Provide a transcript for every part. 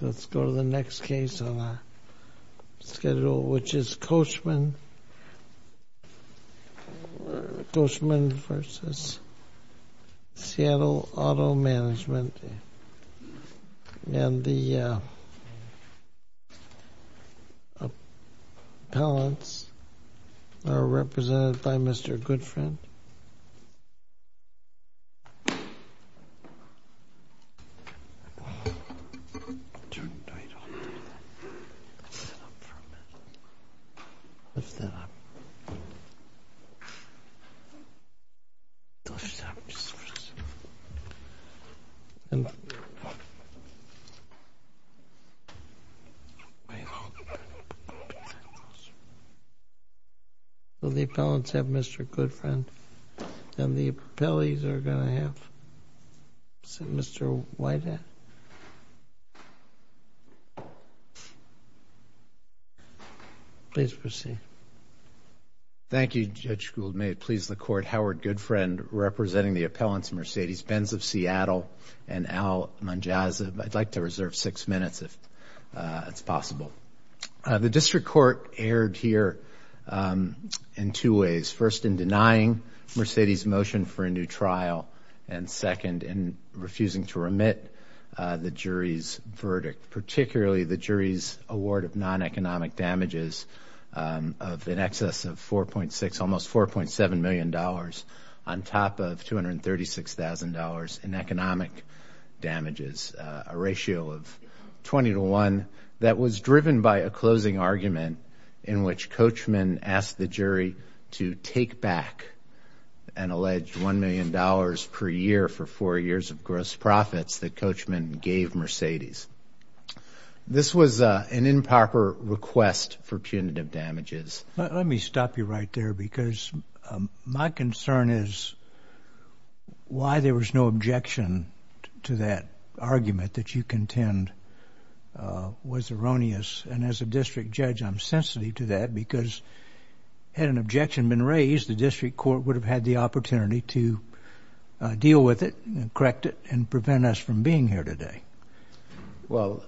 Let's go to the next case on our schedule, which is Coachman Coachman versus Seattle Auto Management and the Appellants are represented by Mr. Goodfriend Turn the light off. Lift it up for a minute. Lift it up. Don't stop. Just listen. Will the Appellants have Mr. Goodfriend and the Appellees are going to have Mr. Whitehead? Please proceed. Thank you, Judge Gould. May it please the Court, Howard Goodfriend representing the Appellants, Mercedes Benz of Seattle and Al Monjaz. I'd like to reserve six minutes if it's possible. The District Court erred here in two ways. First, in denying Mercedes' motion for a new district, particularly the jury's award of non-economic damages of in excess of $4.6 million, almost $4.7 million on top of $236,000 in economic damages, a ratio of 20 to 1. That was driven by a closing argument in which Coachman asked the jury to take back an alleged $1 million per year for four years of gross profits that Coachman gave Mercedes. This was an improper request for punitive damages. Let me stop you right there because my concern is why there was no objection to that argument that you contend was erroneous. And as a district judge, I'm sensitive to that because had an objection been raised, the District Court would have had the opportunity to deal with it and correct it and prevent us from being here today.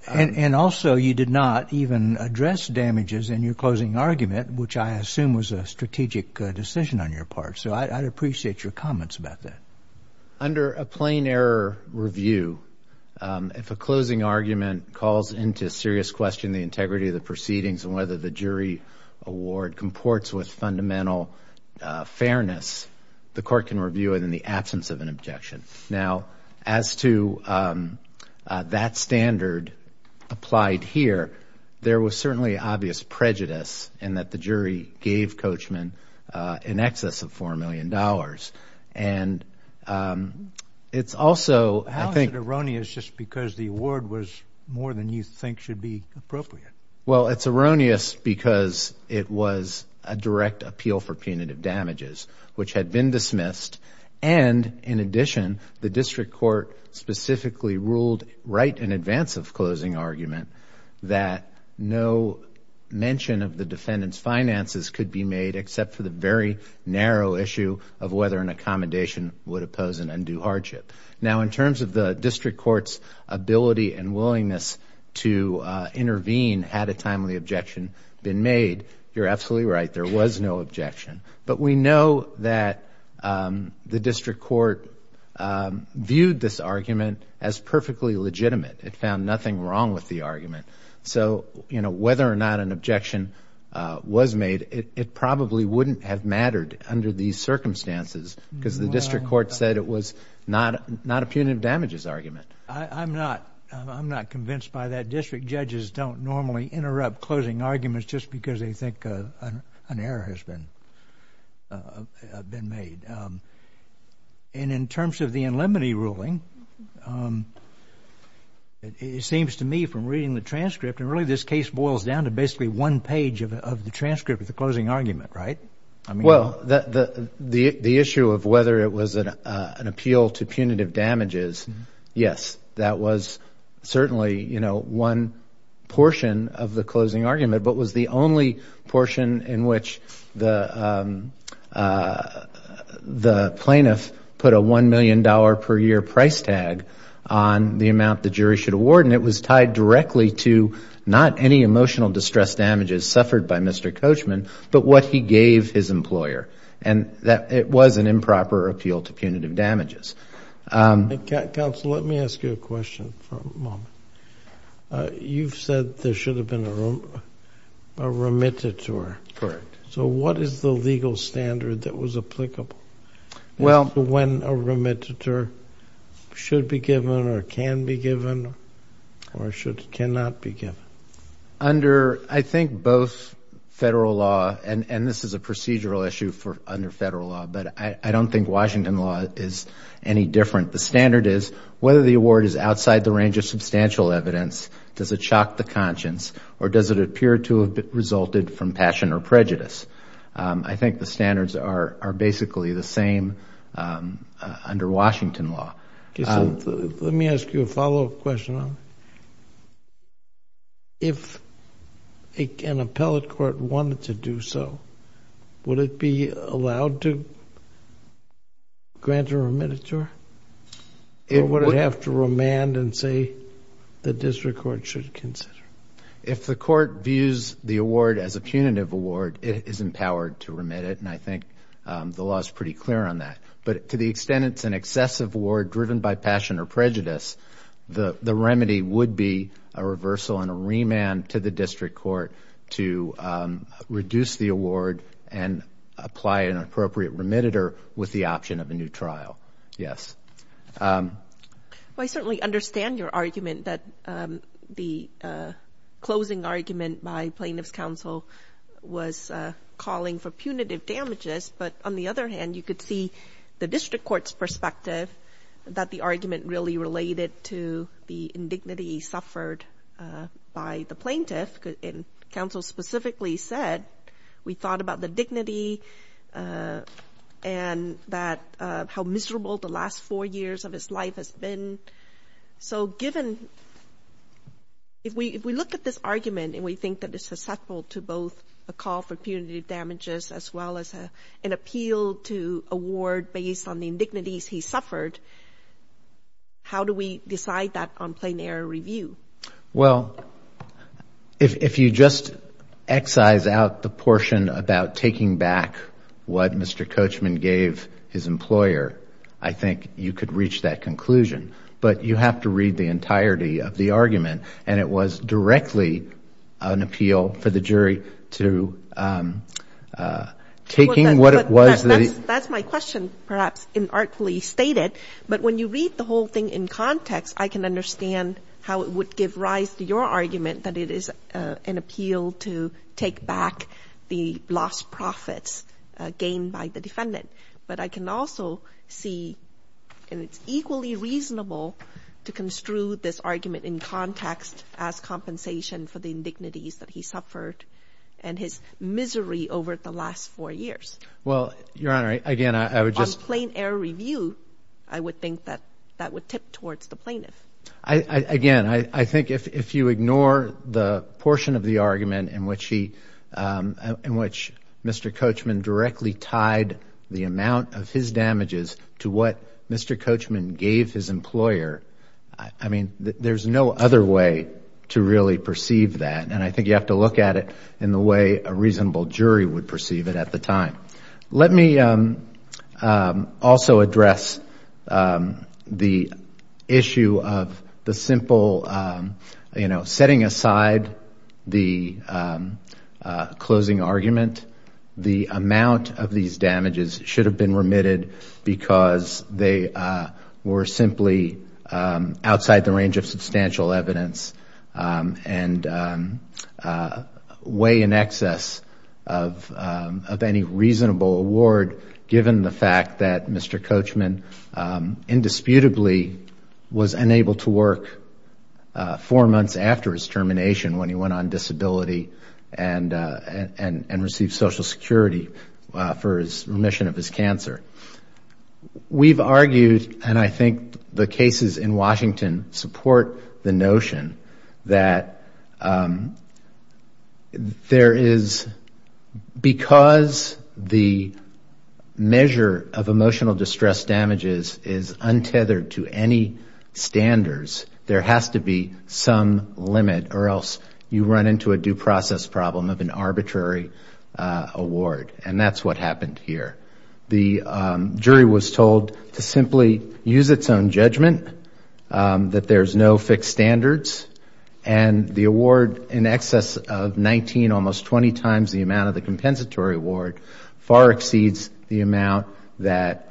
And also, you did not even address damages in your closing argument, which I assume was a strategic decision on your part. So I'd appreciate your comments about that. Under a plain error review, if a closing argument calls into serious question the integrity of the proceedings and whether the jury award comports with fundamental fairness, the court can review it in the absence of an objection. Now, as to that standard applied here, there was certainly obvious prejudice in that the jury gave Coachman in excess of $4 million. And it's also, I think— Well, it's erroneous because it was a direct appeal for punitive damages, which had been dismissed and in addition, the District Court specifically ruled right in advance of closing argument that no mention of the defendant's finances could be made except for the very narrow issue of whether an accommodation would oppose an undue hardship. Now, in terms of had a timely objection been made, you're absolutely right. There was no objection. But we know that the District Court viewed this argument as perfectly legitimate. It found nothing wrong with the argument. So, you know, whether or not an objection was made, it probably wouldn't have mattered under these circumstances because the District Court said it was not a punitive damages argument. I'm not convinced by that. District judges don't normally interrupt closing arguments just because they think an error has been made. And in terms of the in limine ruling, it seems to me from reading the transcript, and really this case boils down to basically one page of the transcript of the closing argument, right? Well, the issue of whether it was an appeal to punitive damages, yes, that was certainly, you know, one portion of the closing argument, but was the only portion in which the plaintiff put a $1 million per year price tag on the amount the jury should award. And it was tied his employer. And that it was an improper appeal to punitive damages. Counsel, let me ask you a question for a moment. You've said there should have been a remittiture. Correct. So what is the legal standard that was applicable as to when a remittiture should be given or can be given or should, cannot be given? Under, I think both federal law, and this is a procedural issue for under federal law, but I don't think Washington law is any different. The standard is whether the award is outside the range of substantial evidence, does it shock the conscience or does it appear to have resulted from passion or prejudice? I think the standards are basically the same under Washington law. Let me ask you a follow-up question. If an appellate court wanted to do so, would it be allowed to grant a remittiture? Or would it have to remand and say the district court should consider? If the court views the award as a punitive award, it is empowered to remit it. And I or prejudice, the remedy would be a reversal and a remand to the district court to reduce the award and apply an appropriate remittiture with the option of a new trial. Yes. Well, I certainly understand your argument that the closing argument by plaintiff's counsel was calling for punitive damages. But on the other hand, you could see the district court's perspective, that the argument really related to the indignity suffered by the plaintiff. Counsel specifically said, we thought about the dignity and that how miserable the last four years of his life has been. So given, if we look at this argument and we think that it's susceptible to both a call for punitive damages as well as an appeal to award based on the indignities he suffered, how do we decide that on plain error review? Well, if you just excise out the portion about taking back what Mr. Coachman gave his employer, I think you could reach that conclusion. But you have to read the entirety of the argument. And it was directly an appeal for the jury to taking what it was. That's my question, perhaps inartfully stated. But when you read the whole thing in context, I can understand how it would give rise to your argument that it is an appeal to take back the lost profits gained by the defendant. But I can also see, and it's equally reasonable to construe this argument in context as compensation for the indignities that he suffered and his misery over the last four years. Well, Your Honor, again, I would just... On plain error review, I would think that that would tip towards the plaintiff. Again, I think if you ignore the portion of the argument in which he, in which Mr. Coachman directly tied the amount of his damages to what Mr. Coachman gave his employer, I mean, there's no other way to really perceive that. And I think you have to look at it in the way a reasonable jury would perceive it at the time. Let me also address the issue of the simple, you know, setting aside the closing argument. The amount of these damages should have been remitted because they were simply outside the range of substantial evidence and weigh in excess of any reasonable award given the fact that Mr. Coachman indisputably was unable to work four months after his termination when he went on disability and received Social Security for his remission of his cancer. We've argued, and I think the cases in Washington support the notion that there is... Because the measure of emotional distress damages is untethered to any standards, there has to be some limit or else you run into a due process problem of an arbitrary award. And that's what happened here. The jury was told to simply use its own judgment, that there's no fixed standards, and the award in excess of 19, almost 20 times the amount of the compensatory award far exceeds the amount that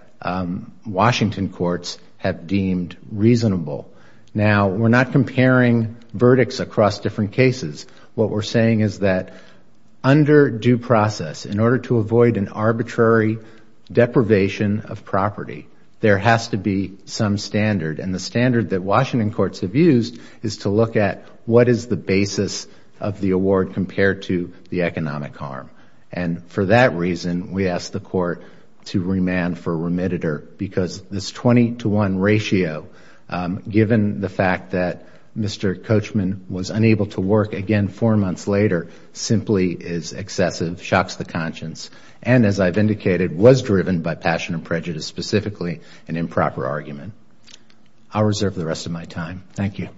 Washington courts have deemed reasonable. Now, we're not comparing verdicts across different cases. What we're saying is that under due process, in order to avoid an arbitrary deprivation of property, there has to be some standard. And the standard that Washington courts have used is to look at what is the basis of the award compared to the economic harm. And for that reason, we asked the court to remand for remittitor because this 20 to 1 ratio, given the fact that Mr. Coachman was unable to work again four months later, simply is excessive, shocks the conscience, and as I've indicated, was driven by passion and prejudice, specifically an improper argument. I'll reserve the rest of my time. Thank you.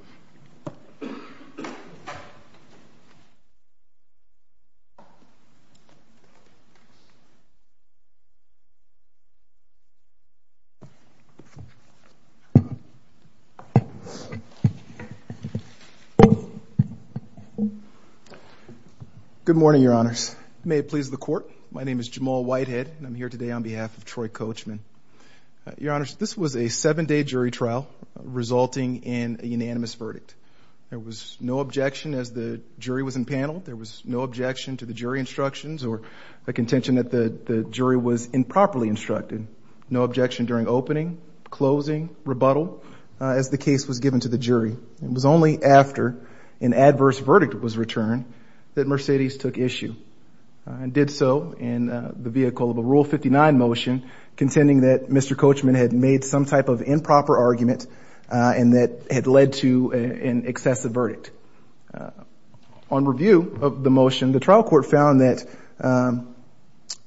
Good morning, Your Honors. May it please the court. My name is Jamal Whitehead, and I'm here today on behalf of Troy Coachman. Your Honors, this was a seven-day jury trial resulting in a unanimous verdict. There was no objection as the jury was in panel. There was no objection to the jury instructions or the contention that the jury was improperly instructed. No objection during opening, closing, rebuttal, as the case was given to the jury. It was only after an adverse verdict was returned that Mercedes took issue and did so in the vehicle of a Rule 59 motion contending that Mr. Coachman had made some type of improper argument and that had led to an excessive verdict. On review of the motion, the trial court found that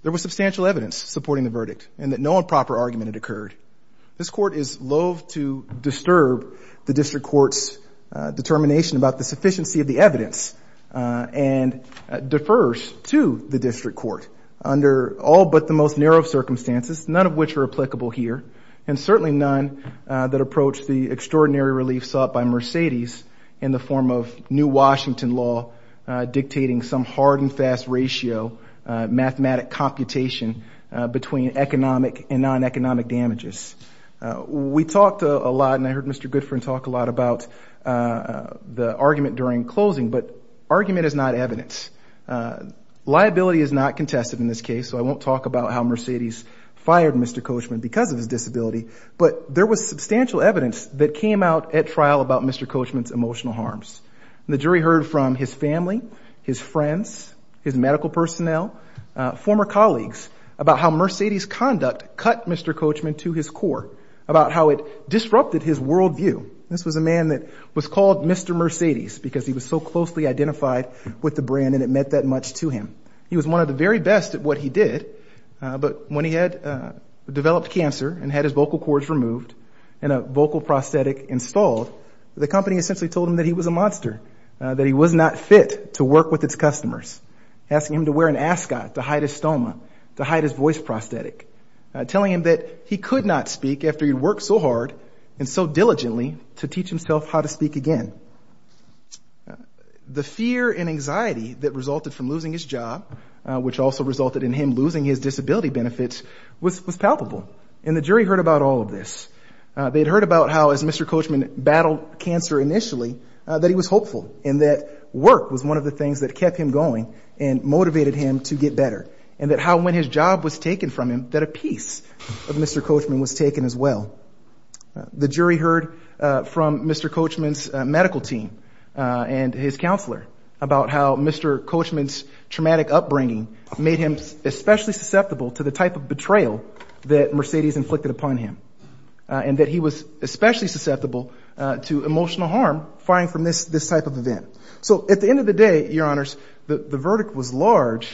there was substantial evidence supporting the verdict and that no improper argument had occurred. This court is loathe to disturb the district court's determination about the sufficiency of the evidence and defers to the district court under all but the most narrow circumstances, none of which are applicable here, and certainly none that approach the extraordinary relief sought by Mercedes in the form of new Washington law dictating some hard and fast ratio, mathematic computation between economic and non-economic damages. We talked a lot, and I heard Mr. Goodfriend talk a lot about the argument during closing, but argument is not evidence. Liability is not contested in this case, so I won't talk about how Mercedes fired Mr. Coachman because of his disability, but there was substantial evidence that came out at trial about Mr. Coachman's emotional harms. The jury heard from his family, his friends, his medical personnel, former colleagues, about how Mercedes' conduct cut Mr. Coachman to his core, about how it disrupted his worldview. This was a man that was called Mr. Mercedes because he was so closely identified with the brand and it meant that much to him. He was one of the very best at what he did, but when he had developed cancer and had his vocal cords removed and a vocal prosthetic installed, the company essentially told him that he was a monster, that he was not fit to work with its customers, asking him to wear an ascot to hide his stoma, to hide his voice prosthetic, telling him that he could not speak after he'd worked so hard and so diligently to teach himself how to speak again. The fear and anxiety that resulted from losing his job, which also resulted in him losing his disability benefits, was palpable, and the jury heard about all of this. They'd heard about how, as Mr. Coachman battled cancer initially, that he was hopeful and that work was one of the things that kept him going and motivated him to get better, and that how when his job was taken from him, that a piece of Mr. Coachman was taken as well. The jury heard from Mr. Coachman's medical team and his counselor about how Mr. Coachman's traumatic upbringing made him especially susceptible to the type of betrayal that Mercedes inflicted upon him, and that he was especially susceptible to emotional harm firing from this type of event. So at the end of the day, your honors, the verdict was large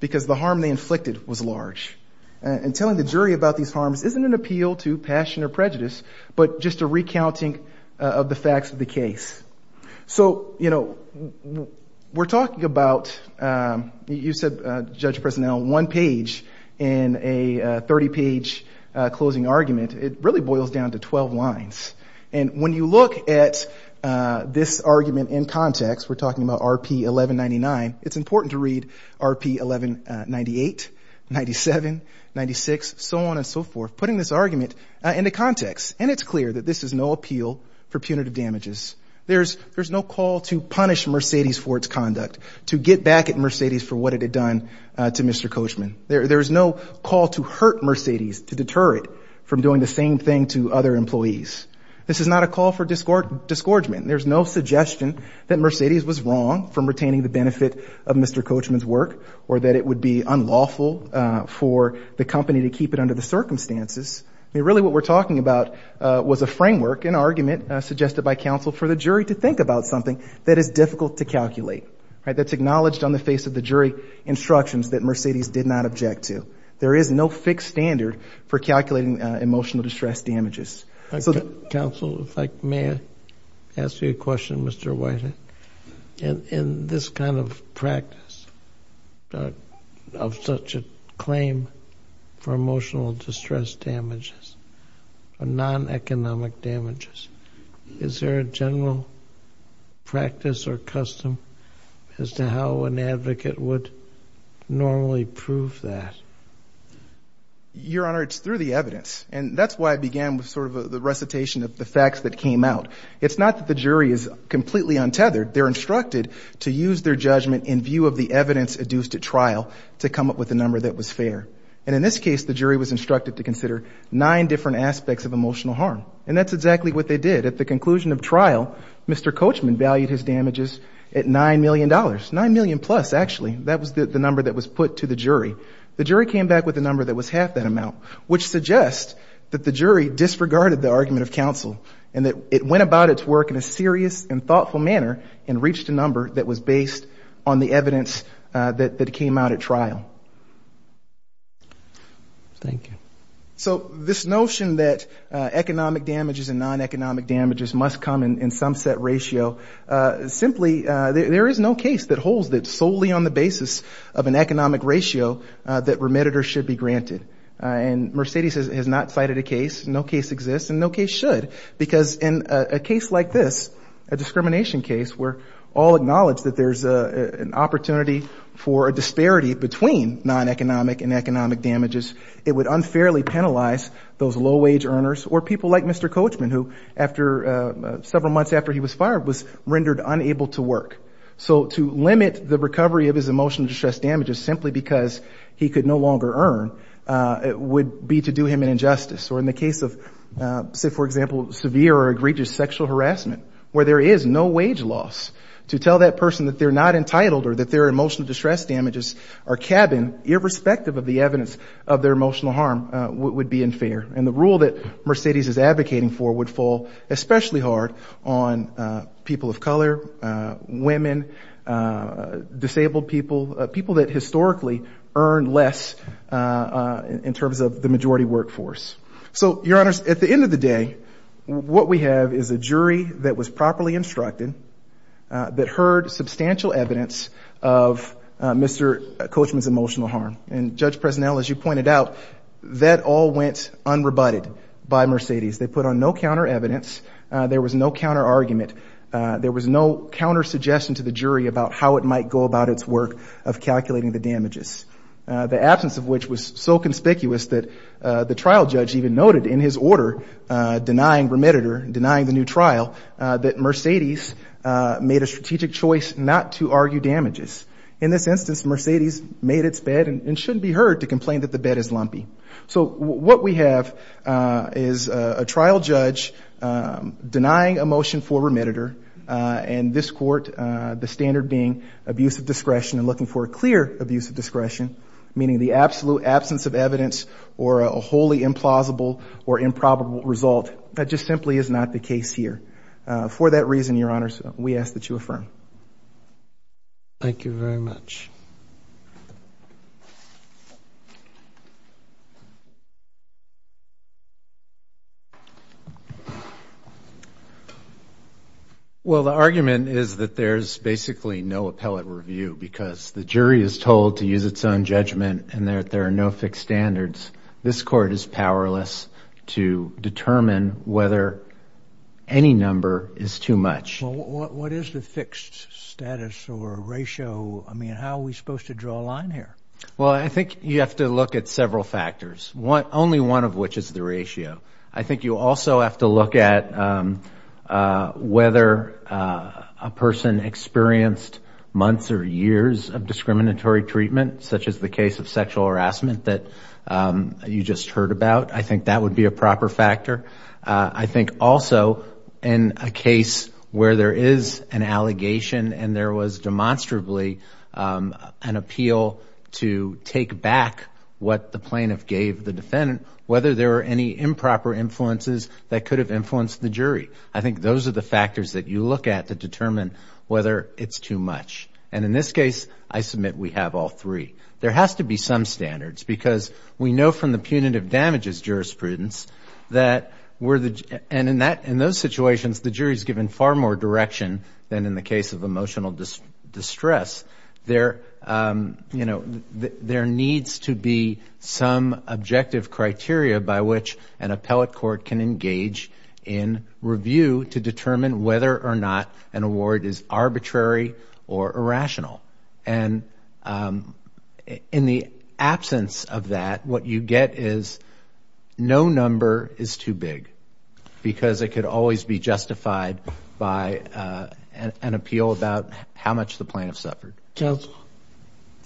because the harm they inflicted was large, and telling the jury about these harms isn't an appeal to passion or prejudice, but just a recounting of the facts of the case. So, you know, we're talking about, you said, Judge Personnel, one page in a 30-page closing argument. It really boils down to 12 lines, and when you look at this argument in context, we're talking about RP 1199, it's important to read RP 1198, 97, 96, so on and so forth, putting this argument into context, and it's clear that this is no appeal for punitive damages. There's no call to punish Mercedes for its conduct, to get back at Mercedes for what it had done to Mr. Coachman. There's no call to hurt Mercedes, to deter it from doing the same thing to other employees. This is not a call for disgorgement. There's no suggestion that Mercedes was wrong from retaining the benefit of Mr. Coachman's work, or that it would be unlawful for the company to keep it under the circumstances. I mean, really what we're talking about was a framework, an argument suggested by counsel for the jury to think about something that is difficult to calculate, right? That's acknowledged on the face of the jury instructions that Mercedes did not object to. There is no fixed standard for calculating emotional distress damages. Counsel, if I may ask you a question, Mr. Whiting. In this kind of practice, of such a claim for emotional distress damages, or non-economic damages, is there a general practice or custom as to how an advocate would normally prove that? Your Honor, it's through the evidence. And that's why I began with sort of the recitation of the facts that came out. It's not that the jury is completely untethered. They're instructed to use their judgment in view of the evidence adduced at trial to come up with a number that was fair. And in this case, the jury was instructed to consider nine different aspects of emotional harm. And that's exactly what they did. At the conclusion of trial, Mr. Coachman valued his damages at $9 million. Nine million plus, actually. That was the number that was put to the jury. The jury came back with a number that was half that amount, which suggests that the jury disregarded the argument of counsel and that it went about its work in a serious and thoughtful manner and reached a number that was based on the evidence that came out at trial. Thank you. So this notion that economic damages and non-economic damages must come in some set ratio, simply there is no case that holds that solely on the basis of an economic ratio that remitted or should be granted. And Mercedes has not cited a case. No case exists and no case should. Because in a case like this, a discrimination case, where all acknowledge that there's an opportunity for a disparity between non-economic and economic damages, it would unfairly penalize those low-wage earners or people like Mr. Coachman, who after several months after he was fired was rendered unable to work. So to limit the recovery of his emotional distress damages simply because he could no longer earn, it would be to do him an injustice. Or in the case of, say, for example, severe or egregious sexual harassment, where there is no wage loss, to tell that person that they're not entitled or that their emotional distress damages are cabined, irrespective of the evidence of their emotional harm, would be unfair. And the rule that Mercedes is advocating for would fall especially hard on people of color, women, disabled people, people that historically earned less in terms of the majority workforce. So, Your Honors, at the end of the day, what we have is a jury that was properly instructed, that heard substantial evidence of Mr. Coachman's emotional harm. And, Judge Presnell, as you pointed out, that all went unrebutted by Mercedes. They put on no counter-evidence. There was no counter-argument. There was no counter-suggestion to the jury about how it might go about its work of calculating the damages, the absence of which was so conspicuous that the trial judge even noted in his order denying remitter, denying the new trial, that Mercedes made a strategic choice not to argue damages. In this instance, Mercedes made its bet and shouldn't be heard to complain that the bet is lumpy. So what we have is a trial judge denying a motion for remitter, and this court, the standard being abuse of discretion and looking for a clear abuse of discretion, meaning the absolute absence of evidence or a wholly implausible or improbable result. That just simply is not the case here. For that reason, Your Honors, we ask that you affirm. Thank you very much. Well, the argument is that there's basically no appellate review because the jury is told to use its own judgment and that there are no fixed standards. This court is powerless to determine whether any number is too much. Well, what is the fixed status or ratio? I mean, how are we supposed to draw a line here? Well, I think you have to look at several factors, only one of which is the ratio. I think you also have to look at whether a person experienced months or years of discriminatory treatment, such as the case of sexual harassment that you just heard about. I think that would be a proper factor. I think also in a case where there is an allegation and there was demonstrably an appeal to take back what the plaintiff gave the defendant, whether there were any improper influences that could have influenced the jury. I think those are the factors that you look at to determine whether it's too much. And in this case, I submit we have all three. There has to be some standards because we know from the punitive damages jurisprudence that in those situations the jury is given far more direction than in the case of emotional distress. There needs to be some objective criteria by which an appellate court can engage in review to determine whether or not an award is arbitrary or irrational. And in the absence of that, what you get is no number is too big because it could always be justified by an appeal about how much the plaintiff suffered. Counsel,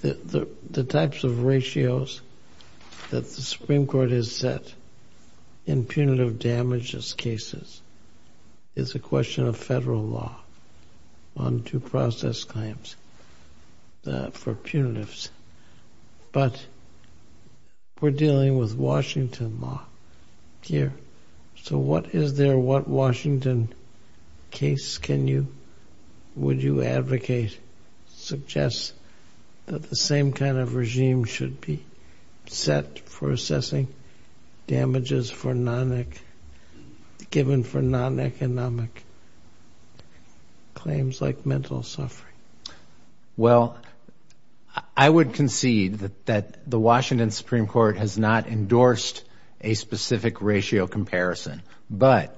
the types of ratios that the Supreme Court has set in punitive damages cases is a question of federal law on due process claims for punitives. But we're dealing with Washington law here. So what is there, what Washington case can you, would you advocate, suggest that the same kind of regime should be set for assessing damages for non-NIC given for non-economic claims like mental suffering? Well, I would concede that the Washington Supreme Court has not endorsed a specific ratio comparison. But,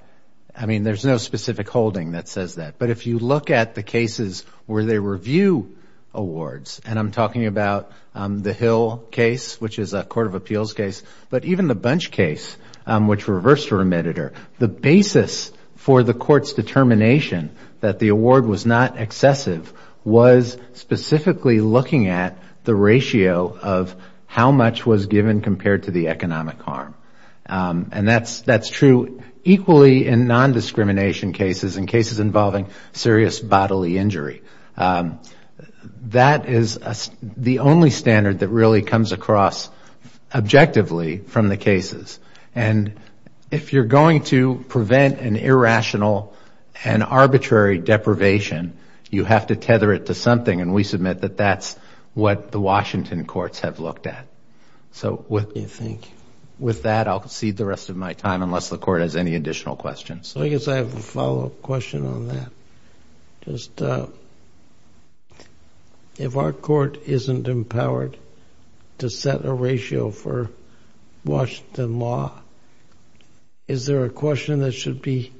I mean, there's no specific holding that says that. But if you look at the cases where they review awards, and I'm talking about the Hill case, which is a court of appeals case, but even the Bunch case, which reversed a remitter, the basis for the court's determination that the award was not excessive was specifically looking at the ratio of how much was given compared to the economic harm. And that's true equally in non-discrimination cases and cases involving serious bodily injury. That is the only standard that really comes across objectively from the cases. And if you're going to prevent an irrational and arbitrary deprivation, you have to tether it to something. And we submit that that's what the Washington courts have looked at. So with that, I'll concede the rest of my time unless the court has any additional questions. I guess I have a follow-up question on that. Just if our court isn't empowered to set a ratio for Washington law, is there a question that should be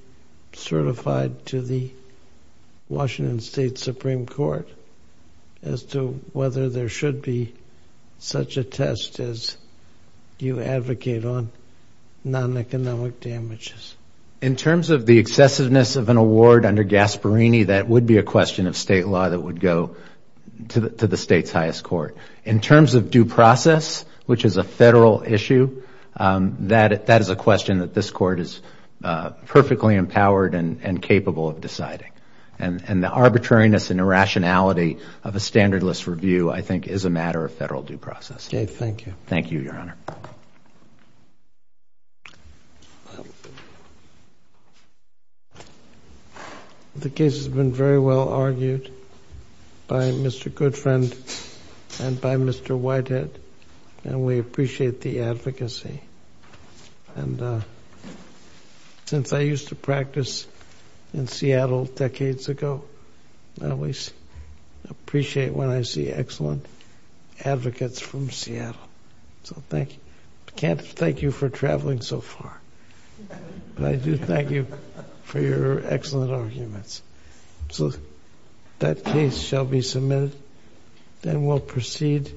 certified to the Washington State Supreme Court as to whether there should be such a test as you advocate on non-economic damages? In terms of the excessiveness of an award under Gasparini, that would be a question of state law that would go to the state's highest court. In terms of due process, which is a federal issue, that is a question that this court is perfectly empowered and capable of deciding. And the arbitrariness and irrationality of a standard list review, I think, is a matter of federal due process. Dave, thank you. Thank you, Your Honor. The case has been very well argued by Mr. Goodfriend and by Mr. Whitehead, and we appreciate the advocacy. And since I used to practice in Seattle decades ago, I always appreciate when I see excellent advocates from Seattle. So thank you. I can't thank you for traveling so far, but I do thank you for your excellent arguments. So that case shall be submitted. Then we'll proceed.